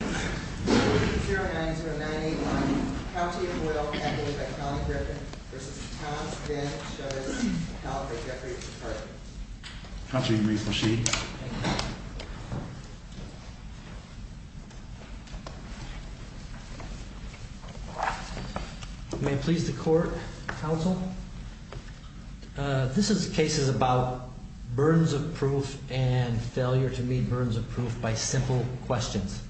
090981, County of Will, Adelaide County Director, v. Tom Zdanewicz, California Department of Justice Counselor, you may proceed. May it please the Court, Counsel. This case is about burdens of proof and failure to meet burdens of proof by simple questions.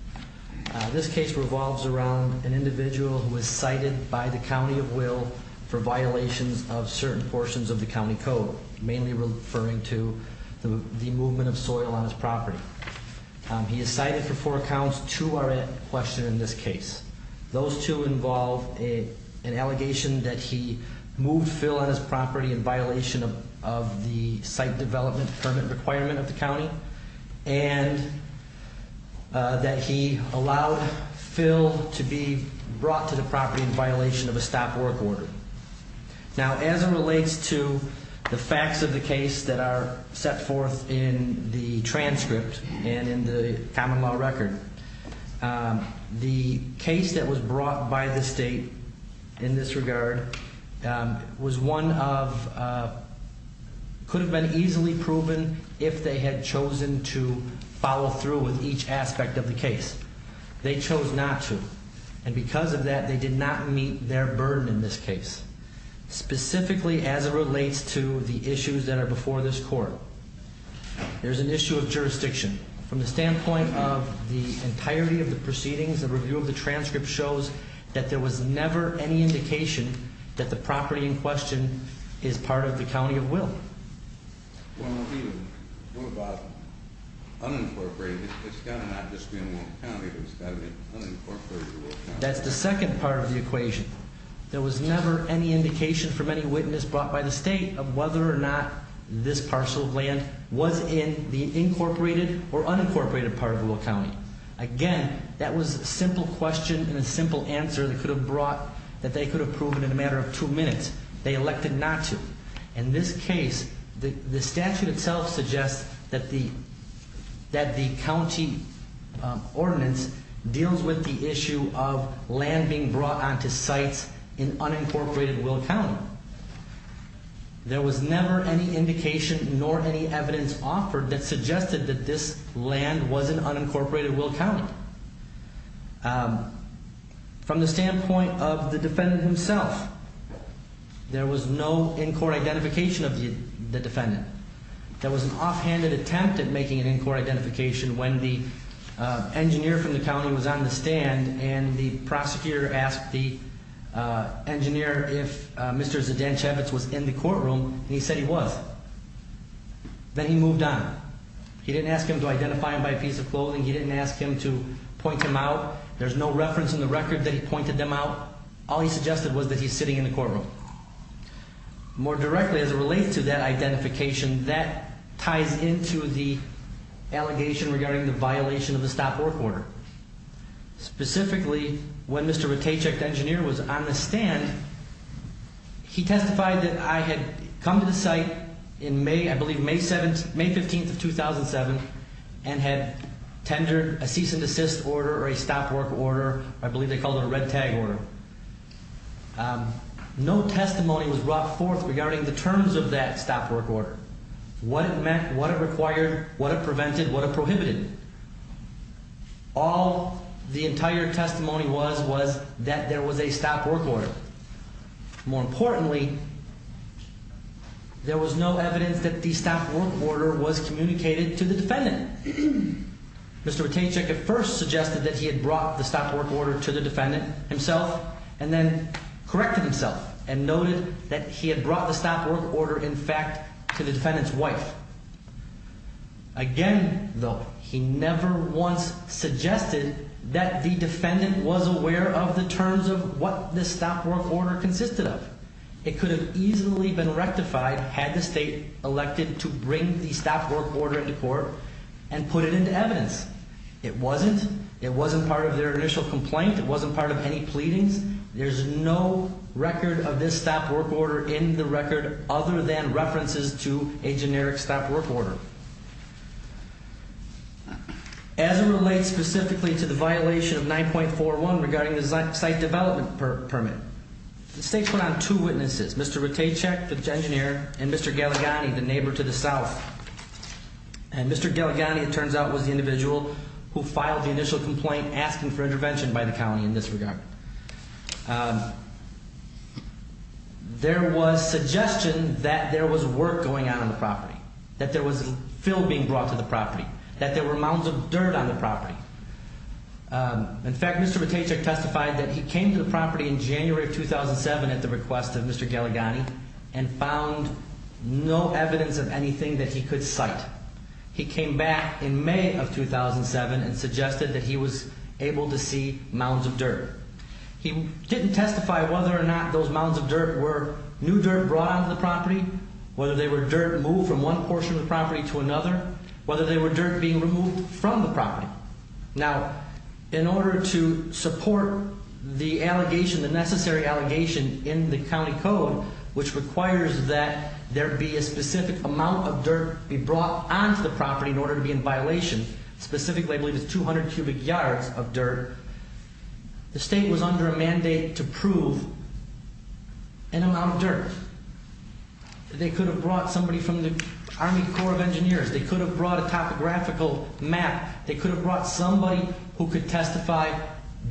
This case revolves around an individual who is cited by the County of Will for violations of certain portions of the County Code, mainly referring to the movement of soil on his property. He is cited for four counts. Two are at question in this case. Those two involve an allegation that he moved fill on his property in violation of the site development permit requirement of the county and that he allowed fill to be brought to the property in violation of a stop work order. Now, as it relates to the facts of the case that are set forth in the transcript and in the common law record, the case that was brought by the state in this regard was one of... could have been easily proven if they had chosen to follow through with each aspect of the case. They chose not to, and because of that, they did not meet their burden in this case. Specifically, as it relates to the issues that are before this Court, there's an issue of jurisdiction. From the standpoint of the entirety of the proceedings, the review of the transcript shows that there was never any indication that the property in question is part of the County of Will. Well, what about unincorporated? It's got to not just be in Will County, but it's got to be unincorporated to Will County. That's the second part of the equation. There was never any indication from any witness brought by the state of whether or not this parcel of land was in the incorporated or unincorporated part of Will County. Again, that was a simple question and a simple answer that they could have proven in a matter of two minutes. They elected not to. In this case, the statute itself suggests that the county ordinance deals with the issue of land being brought onto sites in unincorporated Will County. There was never any indication nor any evidence offered that suggested that this land was in unincorporated Will County. From the standpoint of the defendant himself, there was no in-court identification of the defendant. There was an offhanded attempt at making an in-court identification when the engineer from the county was on the stand and the prosecutor asked the engineer if Mr. Zdenchevitz was in the courtroom, and he said he was. Then he moved on. He didn't ask him to identify him by a piece of clothing. He didn't ask him to point him out. There's no reference in the record that he pointed them out. All he suggested was that he's sitting in the courtroom. More directly as it relates to that identification, that ties into the allegation regarding the violation of the stop work order. Specifically, when Mr. Zdenchevitz, the engineer, was on the stand, he testified that I had come to the site in May, I believe May 15th of 2007, and had tendered a cease and desist order or a stop work order. I believe they called it a red tag order. No testimony was brought forth regarding the terms of that stop work order, what it meant, what it required, what it prevented, what it prohibited. All the entire testimony was was that there was a stop work order. More importantly, there was no evidence that the stop work order was communicated to the defendant. Mr. Zdenchevitz at first suggested that he had brought the stop work order to the defendant himself and then corrected himself and noted that he had brought the stop work order, in fact, to the defendant's wife. Again, though, he never once suggested that the defendant was aware of the terms of what the stop work order consisted of. It could have easily been rectified had the state elected to bring the stop work order into court and put it into evidence. It wasn't. It wasn't part of their initial complaint. It wasn't part of any pleadings. There's no record of this stop work order in the record other than references to a generic stop work order. As it relates specifically to the violation of 9.41 regarding the site development permit, the state put on two witnesses, Mr. Ratajchik, the engineer, and Mr. Galagani, the neighbor to the south. And Mr. Galagani, it turns out, was the individual who filed the initial complaint asking for intervention by the county in this regard. There was suggestion that there was work going on on the property, that there was fill being brought to the property, that there were mounds of dirt on the property. In fact, Mr. Ratajchik testified that he came to the property in January of 2007 at the request of Mr. Galagani and found no evidence of anything that he could cite. He came back in May of 2007 and suggested that he was able to see mounds of dirt. He didn't testify whether or not those mounds of dirt were new dirt brought onto the property, whether they were dirt moved from one portion of the property to another, Now, in order to support the allegation, the necessary allegation in the county code, which requires that there be a specific amount of dirt be brought onto the property in order to be in violation, specifically, I believe it's 200 cubic yards of dirt, the state was under a mandate to prove an amount of dirt. They could have brought somebody from the Army Corps of Engineers. They could have brought a topographical map. They could have brought somebody who could testify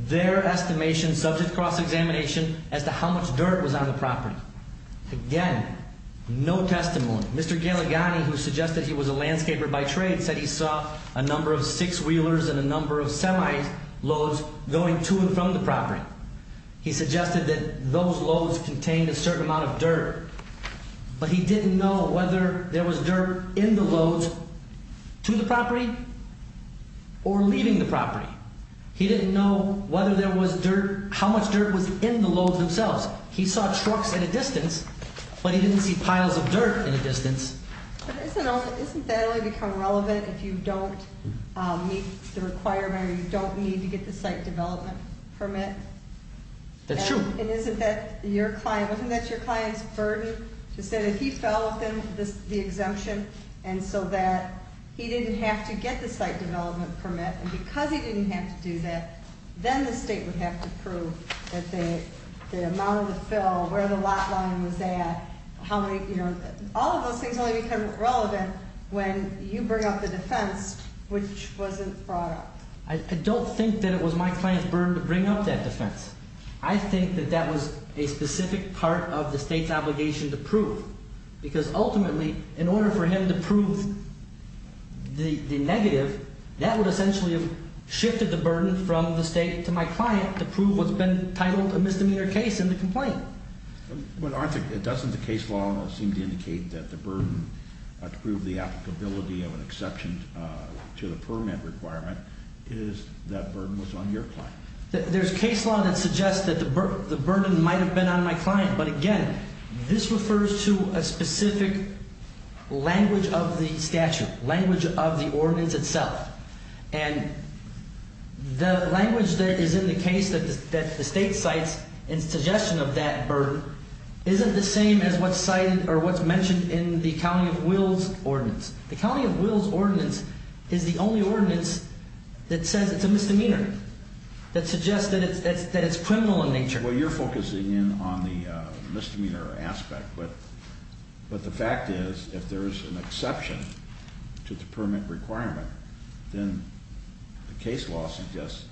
their estimation, subject to cross-examination, as to how much dirt was on the property. Again, no testimony. Mr. Galagani, who suggested he was a landscaper by trade, said he saw a number of six-wheelers and a number of semi-loads going to and from the property. He suggested that those loads contained a certain amount of dirt, but he didn't know whether there was dirt in the loads to the property or leaving the property. He didn't know whether there was dirt, how much dirt was in the loads themselves. He saw trucks in a distance, but he didn't see piles of dirt in a distance. But isn't that only become relevant if you don't meet the requirement, or you don't need to get the site development permit? That's true. And isn't that your client's burden to say that he fell within the exemption and so that he didn't have to get the site development permit, and because he didn't have to do that, then the state would have to prove that the amount of the fill, where the lot line was at, how many, you know, all of those things only become relevant when you bring up the defense, which wasn't brought up. I don't think that it was my client's burden to bring up that defense. I think that that was a specific part of the state's obligation to prove, because ultimately, in order for him to prove the negative, that would essentially have shifted the burden from the state to my client to prove what's been titled a misdemeanor case in the complaint. But doesn't the case law seem to indicate that the burden to prove the applicability of an exception to the permit requirement is that burden was on your client? There's case law that suggests that the burden might have been on my client, but again, this refers to a specific language of the statute, language of the ordinance itself, and the language that is in the case that the state cites in suggestion of that burden isn't the same as what's cited or what's mentioned in the County of Wills Ordinance. The County of Wills Ordinance is the only ordinance that says it's a misdemeanor, that suggests that it's criminal in nature. Well, you're focusing in on the misdemeanor aspect, but the fact is if there's an exception to the permit requirement, then the case law suggests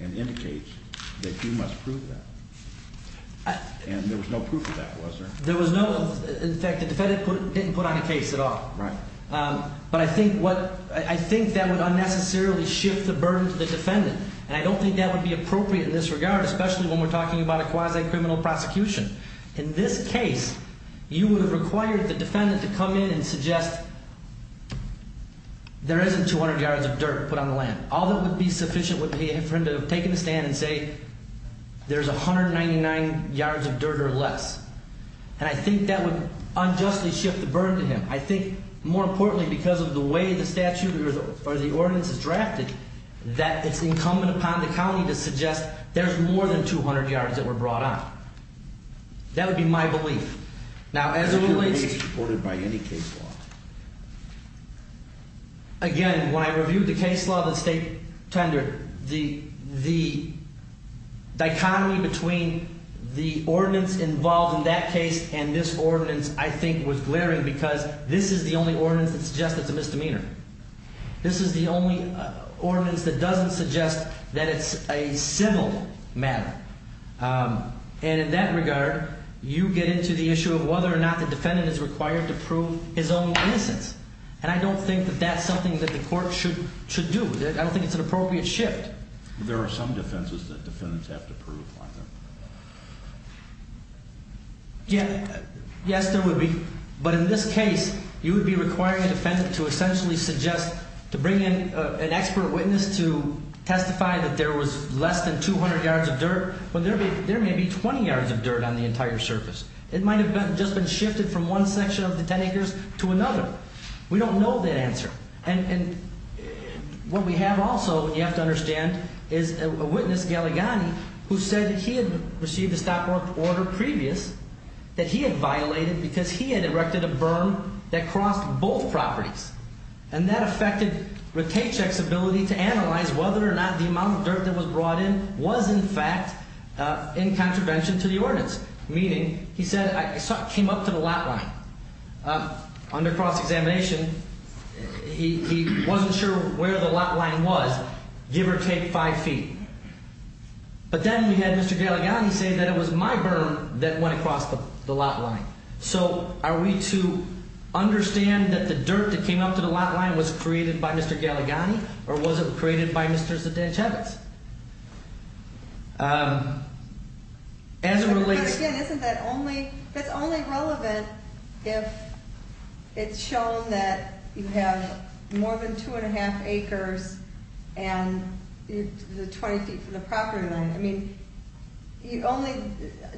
and indicates that you must prove that. And there was no proof of that, was there? There was no. In fact, the defendant didn't put on a case at all. Right. But I think that would unnecessarily shift the burden to the defendant, and I don't think that would be appropriate in this regard, especially when we're talking about a quasi-criminal prosecution. In this case, you would have required the defendant to come in and suggest there isn't 200 yards of dirt put on the land. All that would be sufficient would be for him to have taken a stand and say there's 199 yards of dirt or less, and I think that would unjustly shift the burden to him. I think, more importantly, because of the way the statute or the ordinance is drafted, that it's incumbent upon the county to suggest there's more than 200 yards that were brought on. That would be my belief. Now, as it relates to the case law, again, when I reviewed the case law, the state tender, the dichotomy between the ordinance involved in that case and this ordinance, I think, was glaring because this is the only ordinance that suggests it's a misdemeanor. This is the only ordinance that doesn't suggest that it's a civil matter. And in that regard, you get into the issue of whether or not the defendant is required to prove his own innocence, and I don't think that that's something that the court should do. I don't think it's an appropriate shift. There are some defenses that defendants have to prove, I think. Yes, there would be, but in this case, you would be requiring a defendant to essentially suggest to bring in an expert witness to testify that there was less than 200 yards of dirt, when there may be 20 yards of dirt on the entire surface. It might have just been shifted from one section of the 10 acres to another. We don't know that answer. And what we have also, you have to understand, is a witness, Gallegani, who said that he had received a stop-work order previous that he had violated because he had erected a berm that crossed both properties. And that affected Ratajkic's ability to analyze whether or not the amount of dirt that was brought in was, in fact, in contravention to the ordinance. Meaning, he said, I came up to the lot line. Under cross-examination, he wasn't sure where the lot line was, give or take five feet. But then we had Mr. Gallegani say that it was my berm that went across the lot line. So are we to understand that the dirt that came up to the lot line was created by Mr. Gallegani, or was it created by Mr. Zdenchevitz? As it relates... But again, isn't that only, that's only relevant if it's shown that you have more than 2 1⁄2 acres and the 20 feet from the property line. I mean,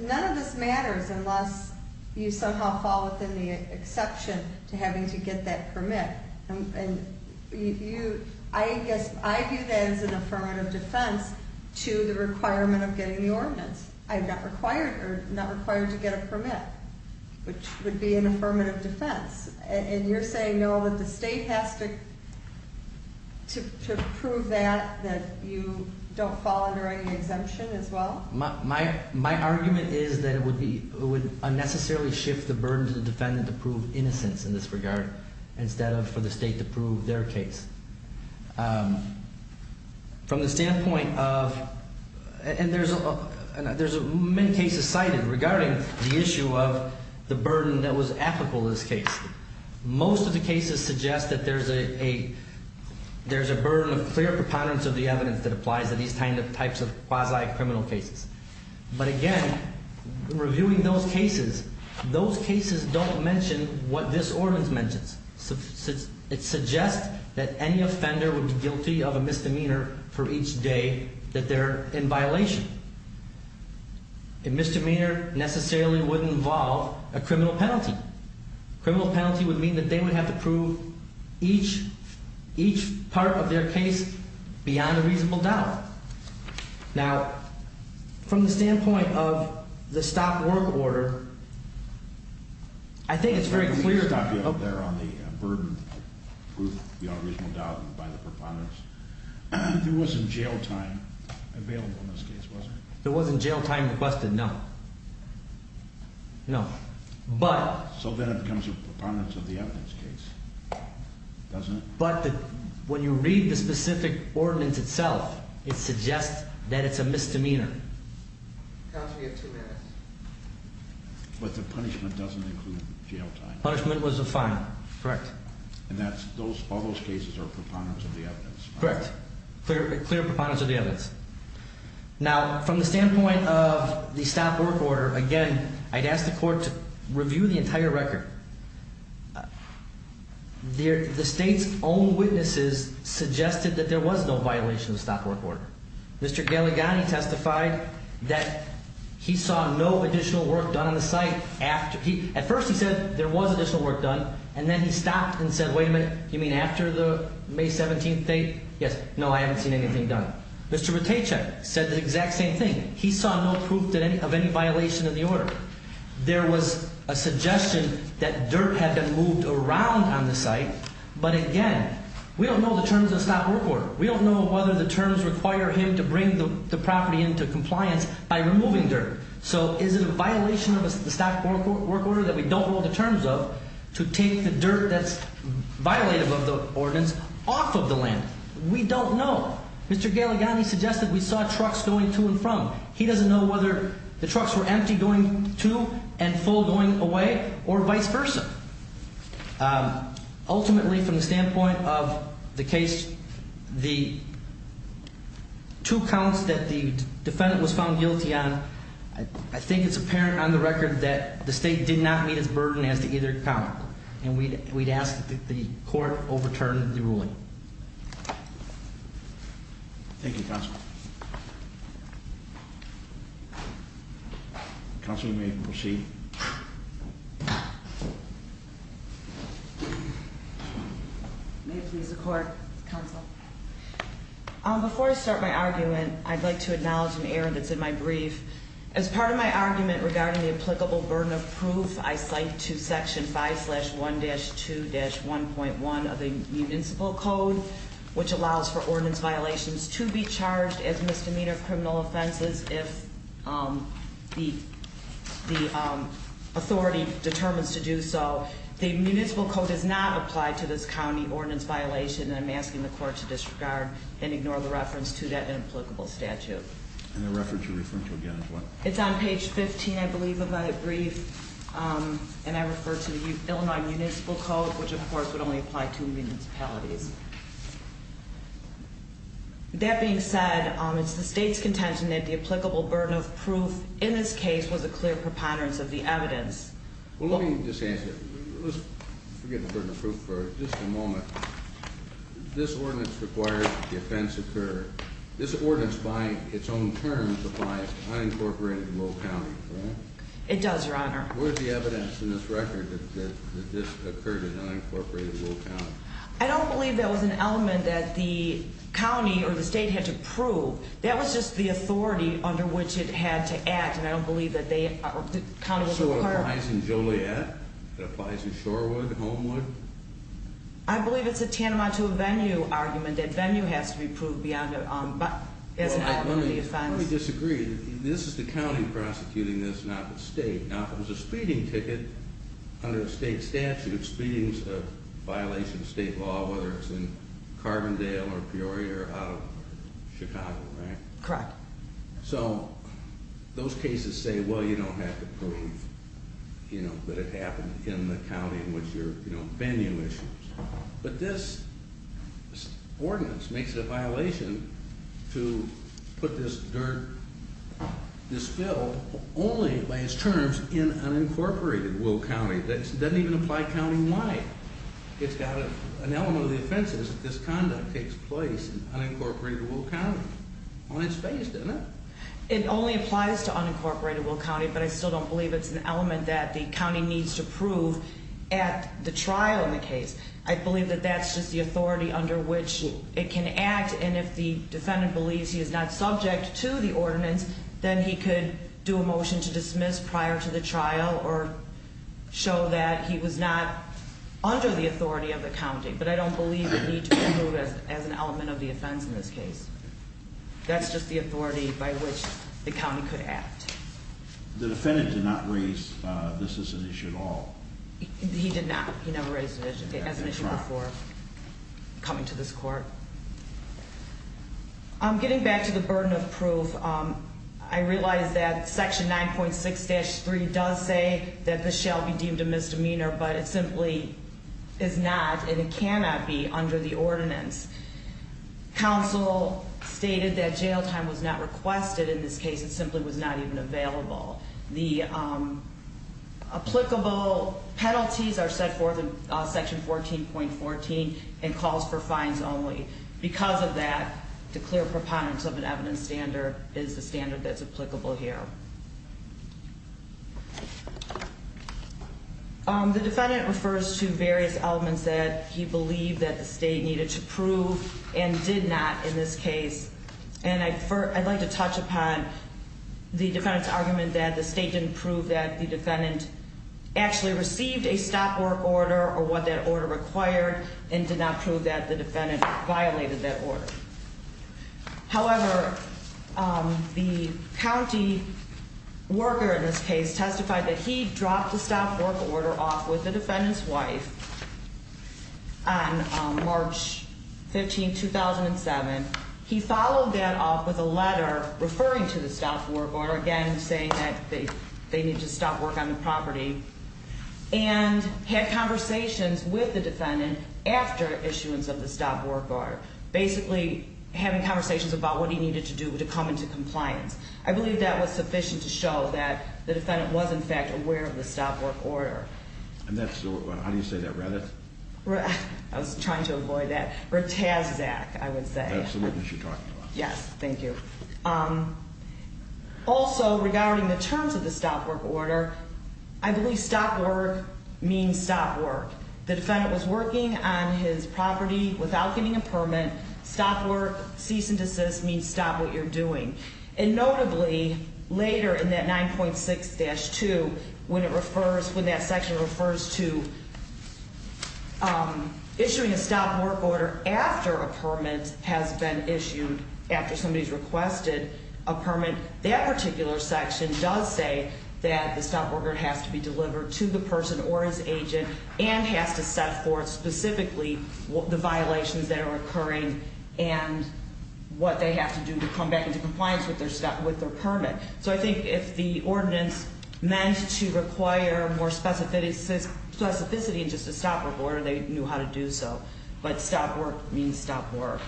none of this matters unless you somehow fall within the exception to having to get that permit. And I guess I view that as an affirmative defense to the requirement of getting the ordinance. I'm not required to get a permit, which would be an affirmative defense. And you're saying, no, that the state has to prove that, that you don't fall under any exemption as well? My argument is that it would unnecessarily shift the burden to the defendant to prove innocence in this regard, instead of for the state to prove their case. From the standpoint of... And there's many cases cited regarding the issue of the burden that was applicable to this case. Most of the cases suggest that there's a burden of clear preponderance of the evidence that applies to these types of quasi-criminal cases. But again, reviewing those cases, those cases don't mention what this ordinance mentions. It suggests that any offender would be guilty of a misdemeanor for each day that they're in violation. A misdemeanor necessarily wouldn't involve a criminal penalty. A criminal penalty would mean that they would have to prove each part of their case beyond a reasonable doubt. Now, from the standpoint of the stop-work order, I think it's very clear... I don't mean to stop you up there on the burden of proof beyond a reasonable doubt by the preponderance. There wasn't jail time available in this case, was there? There wasn't jail time requested, no. No. But... So then it becomes a preponderance of the evidence case, doesn't it? But when you read the specific ordinance itself, it suggests that it's a misdemeanor. Counsel, you have two minutes. But the punishment doesn't include jail time? Punishment was a fine. Correct. And all those cases are preponderance of the evidence? Correct. Clear preponderance of the evidence. Now, from the standpoint of the stop-work order, again, I'd ask the court to review the entire record. The state's own witnesses suggested that there was no violation of the stop-work order. Mr. Gallegani testified that he saw no additional work done on the site after he... At first he said there was additional work done, and then he stopped and said, wait a minute, you mean after the May 17th date? Yes. No, I haven't seen anything done. Mr. Matejko said the exact same thing. He saw no proof of any violation of the order. There was a suggestion that dirt had been moved around on the site, but again, we don't know the terms of the stop-work order. We don't know whether the terms require him to bring the property into compliance by removing dirt. So is it a violation of the stop-work order that we don't know the terms of to take the dirt that's violative of the ordinance off of the land? We don't know. Mr. Gallegani suggested we saw trucks going to and from. He doesn't know whether the trucks were empty going to and full going away or vice versa. Ultimately, from the standpoint of the case, the two counts that the defendant was found guilty on, I think it's apparent on the record that the state did not meet its burden as to either count. And we'd ask that the court overturn the ruling. Thank you. Thank you, Counsel. Counsel, you may proceed. May it please the court, Counsel. Before I start my argument, I'd like to acknowledge an error that's in my brief. As part of my argument regarding the applicable burden of proof, I cite to Section 5-1-2-1.1 of the Municipal Code, which allows for ordinance violations to be charged as misdemeanor criminal offenses if the authority determines to do so. The Municipal Code does not apply to this county ordinance violation, and I'm asking the court to disregard and ignore the reference to that inapplicable statute. And the reference you're referring to again is what? It's on page 15, I believe, of my brief. And I refer to the Illinois Municipal Code, which, of course, would only apply to municipalities. That being said, it's the state's contention that the applicable burden of proof in this case was a clear preponderance of the evidence. Well, let me just answer. Let's forget the burden of proof for just a moment. This ordinance requires that the offense occur. This ordinance, by its own terms, applies to unincorporated Lowell County, correct? It does, Your Honor. What is the evidence in this record that this occurred in unincorporated Lowell County? I don't believe that was an element that the county or the state had to prove. That was just the authority under which it had to act, and I don't believe that the county was required. So it applies in Joliet? It applies in Shorewood? Homewood? I believe it's a tantamount to a venue argument. That venue has to be proved as an element of the offense. Well, let me disagree. This is the county prosecuting this, not the state. Now, if it was a speeding ticket under a state statute, speedings are a violation of state law, whether it's in Carbondale or Peoria or out of Chicago, right? Correct. So those cases say, well, you don't have to prove, you know, that it happened in the county in which you're, you know, venue issues. But this ordinance makes it a violation to put this dirt, this spill, only by its terms, in unincorporated Lowell County. It doesn't even apply county-wide. It's got an element of the offenses if this conduct takes place in unincorporated Lowell County. Well, it's based in it. It only applies to unincorporated Lowell County, but I still don't believe it's an element that the county needs to prove at the trial in the case. I believe that that's just the authority under which it can act, and if the defendant believes he is not subject to the ordinance, then he could do a motion to dismiss prior to the trial or show that he was not under the authority of the county. But I don't believe it needs to be proved as an element of the offense in this case. That's just the authority by which the county could act. The defendant did not raise this as an issue at all. He did not. He never raised it as an issue before coming to this court. I'm getting back to the burden of proof. I realize that Section 9.6-3 does say that this shall be deemed a misdemeanor, but it simply is not, and it cannot be, under the ordinance. Counsel stated that jail time was not requested in this case. It simply was not even available. The applicable penalties are set forth in Section 14.14 and calls for fines only. Because of that, the clear preponderance of an evidence standard is the standard that's applicable here. The defendant refers to various elements that he believed that the state needed to prove and did not in this case, and I'd like to touch upon the defendant's argument that the state didn't prove that the defendant actually received a stop work order, or what that order required, and did not prove that the defendant violated that order. However, the county worker in this case testified that he dropped the stop work order off with the defendant's wife on March 15, 2007. He followed that up with a letter referring to the stop work order, again saying that they need to stop work on the property, and had conversations with the defendant after issuance of the stop work order, basically having conversations about what he needed to do to come into compliance. I believe that was sufficient to show that the defendant was, in fact, aware of the stop work order. And that's the, how do you say that, Reddith? I was trying to avoid that. Or TASZAC, I would say. Absolutely. That's what you're talking about. Yes, thank you. Also, regarding the terms of the stop work order, I believe stop work means stop work. The defendant was working on his property without getting a permit. Stop work, cease and desist means stop what you're doing. And notably, later in that 9.6-2, when it refers, when that section refers to issuing a stop work order after a permit has been issued, after somebody's requested a permit, that particular section does say that the stop work order has to be delivered to the person or his agent and has to set forth specifically the violations that are occurring and what they have to do to come back into compliance with their permit. So I think if the ordinance meant to require more specificity in just a stop work order, they knew how to do so. But stop work means stop work.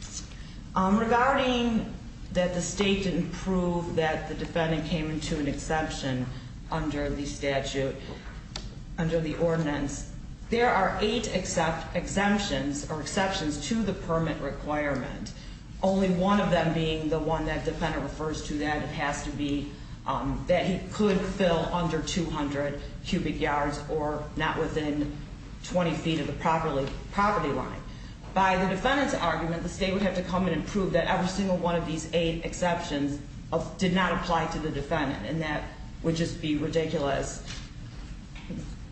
Thank you. Regarding that the state didn't prove that the defendant came into an exception under the statute, under the ordinance, there are eight exemptions or exceptions to the permit requirement, only one of them being the one that the defendant refers to that it has to be that he could fill under 200 cubic yards or not within 20 feet of the property line. By the defendant's argument, the state would have to come in and prove that every single one of these eight exceptions did not apply to the defendant. And that would just be ridiculous.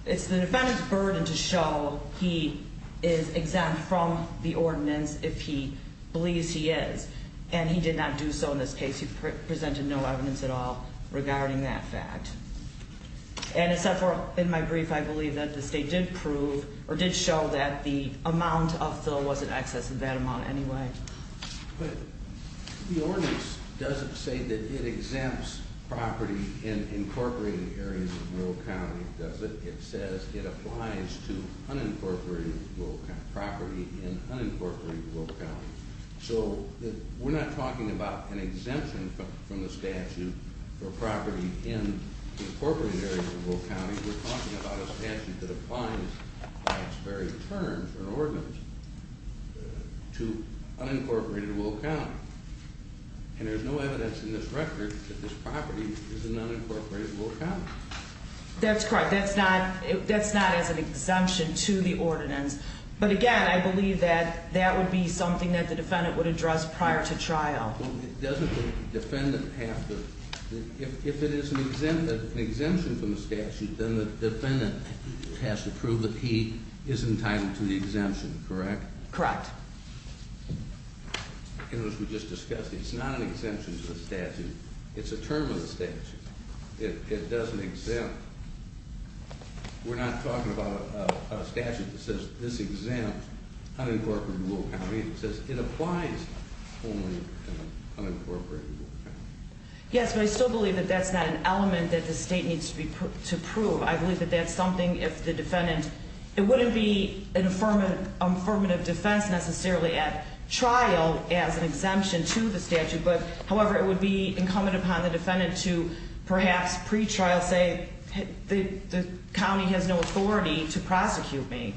It's the defendant's burden to show he is exempt from the ordinance if he believes he is. And he did not do so in this case. He presented no evidence at all regarding that fact. And except for in my brief, I believe that the state did prove or did show that the amount of fill wasn't excess in that amount anyway. But the ordinance doesn't say that it exempts property in incorporated areas of Will County, does it? It says it applies to unincorporated property in unincorporated Will County. So we're not talking about an exemption from the statute for property in incorporated areas of Will County. We're talking about a statute that applies by its very terms or ordinance to unincorporated Will County. And there's no evidence in this record that this property is in unincorporated Will County. That's correct. But again, I believe that that would be something that the defendant would address prior to trial. Well, doesn't the defendant have to, if it is an exemption from the statute, then the defendant has to prove that he is entitled to the exemption, correct? Correct. And as we just discussed, it's not an exemption to the statute. It's a term of the statute. It doesn't exempt. We're not talking about a statute that says this exempts unincorporated Will County. It says it applies only to unincorporated Will County. Yes, but I still believe that that's not an element that the state needs to prove. I believe that that's something if the defendant, it wouldn't be an affirmative defense necessarily at trial as an exemption to the statute. But however, it would be incumbent upon the defendant to perhaps pre-trial say the county has no authority to prosecute me.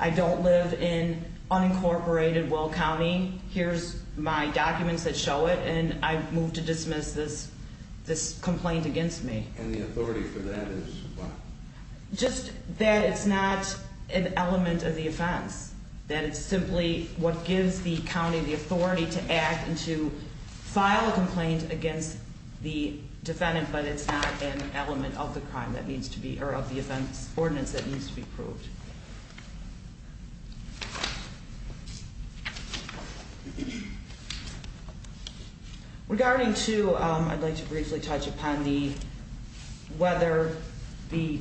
I don't live in unincorporated Will County. Here's my documents that show it. And I move to dismiss this complaint against me. And the authority for that is what? Just that it's not an element of the offense. That it's simply what gives the county the authority to act and to file a complaint against the defendant. But it's not an element of the crime that needs to be or of the offense ordinance that needs to be proved. Regarding to, I'd like to briefly touch upon the whether the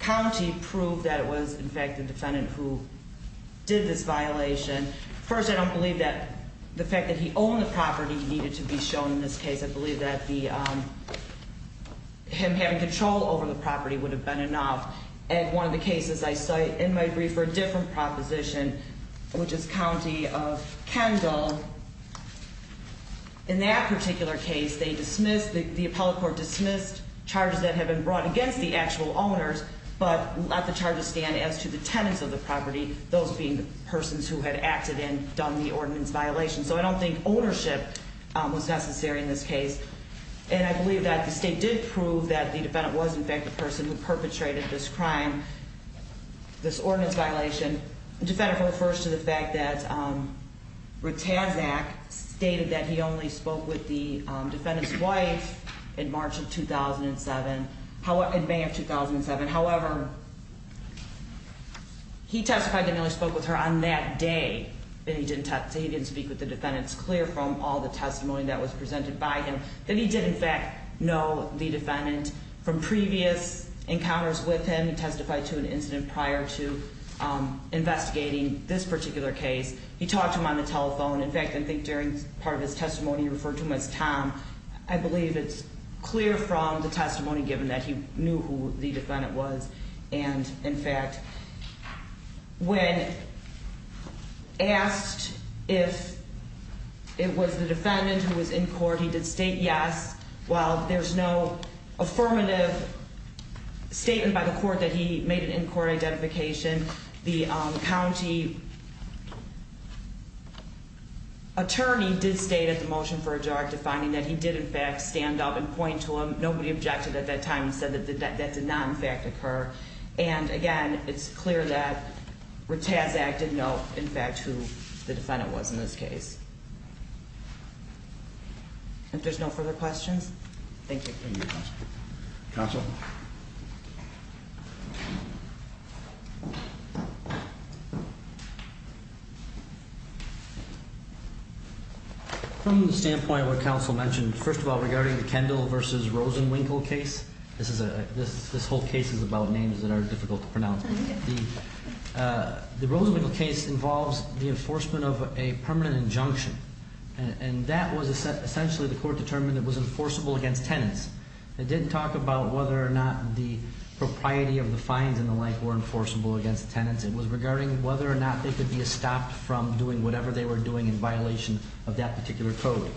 county proved that it was in fact the defendant who did this violation. First, I don't believe that the fact that he owned the property needed to be shown in this case. I believe that him having control over the property would have been enough. And one of the cases I cite in my brief for a different proposition, which is County of Kendall. In that particular case, they dismissed, the appellate court dismissed charges that had been brought against the actual owners. But let the charges stand as to the tenants of the property, those being the persons who had acted and done the ordinance violation. So I don't think ownership was necessary in this case. And I believe that the state did prove that the defendant was in fact the person who perpetrated this crime, this ordinance violation. Defendant refers to the fact that Ritazac stated that he only spoke with the defendant's wife in March of 2007, in May of 2007. However, he testified that he only spoke with her on that day. And he didn't speak with the defendant. It's clear from all the testimony that was presented by him that he did in fact know the defendant from previous encounters with him. He testified to an incident prior to investigating this particular case. He talked to him on the telephone. In fact, I think during part of his testimony, he referred to him as Tom. I believe it's clear from the testimony given that he knew who the defendant was. And in fact, when asked if it was the defendant who was in court, he did state yes. While there's no affirmative statement by the court that he made an in-court identification, the county attorney did state at the motion for a directive finding that he did in fact stand up and point to him. And again, it's clear that Ritazac did know, in fact, who the defendant was in this case. If there's no further questions, thank you. Thank you, Counsel. Counsel? From the standpoint of what Counsel mentioned, first of all, regarding the Kendall v. Rosenwinkle case, this whole case is about names that are difficult to pronounce. The Rosenwinkle case involves the enforcement of a permanent injunction. And that was essentially the court determined it was enforceable against tenants. It didn't talk about whether or not the propriety of the fines and the like were enforceable against tenants. It was regarding whether or not they could be stopped from doing whatever they were doing in violation of that particular code.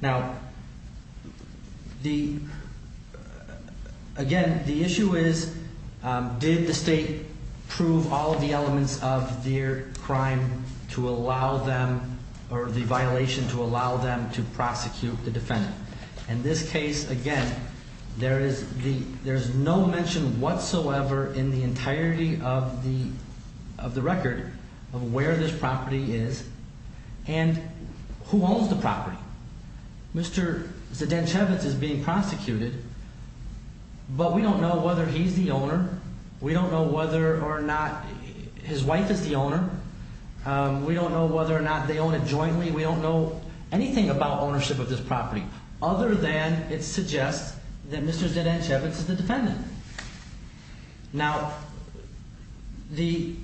Now, again, the issue is, did the state prove all of the elements of their crime to allow them or the violation to allow them to prosecute the defendant? In this case, again, there's no mention whatsoever in the entirety of the record of where this property is and who owns the property. Now, Mr. Zdenchevitz is being prosecuted, but we don't know whether he's the owner. We don't know whether or not his wife is the owner. We don't know whether or not they own it jointly. We don't know anything about ownership of this property other than it suggests that Mr. Zdenchevitz is the defendant. Now, the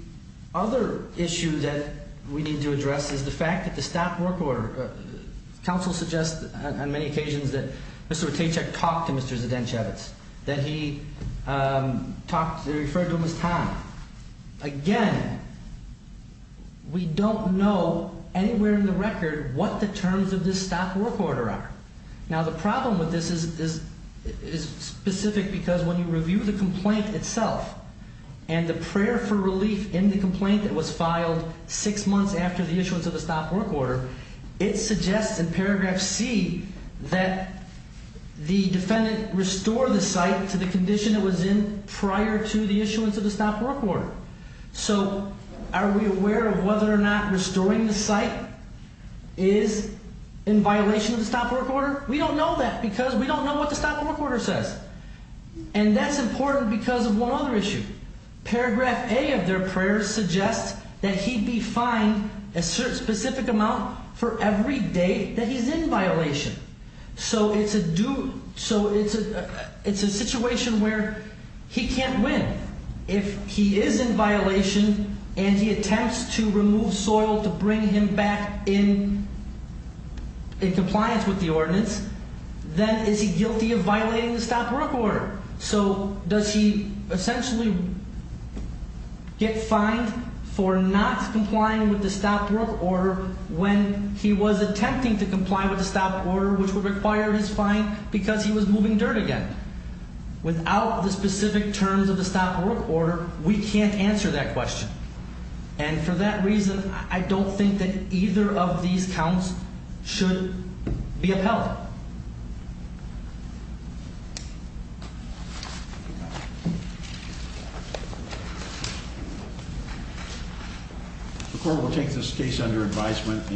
other issue that we need to address is the fact that the stock work order, counsel suggests on many occasions that Mr. Rotacek talked to Mr. Zdenchevitz, that he referred to him as Tom. Again, we don't know anywhere in the record what the terms of this stock work order are. Now, the problem with this is specific because when you review the complaint itself and the prayer for relief in the complaint that was filed six months after the issuance of the stock work order, it suggests in paragraph C that the defendant restored the site to the condition it was in prior to the issuance of the stock work order. So are we aware of whether or not restoring the site is in violation of the stock work order? We don't know that because we don't know what the stock work order says. And that's important because of one other issue. Paragraph A of their prayer suggests that he be fined a specific amount for every day that he's in violation. So it's a situation where he can't win. If he is in violation and he attempts to remove soil to bring him back in compliance with the ordinance, then is he guilty of violating the stock work order? So does he essentially get fined for not complying with the stock work order when he was attempting to comply with the stock order, which would require his fine because he was moving dirt again? Without the specific terms of the stock work order, we can't answer that question. And for that reason, I don't think that either of these counts should be upheld. The court will take this case under advisement.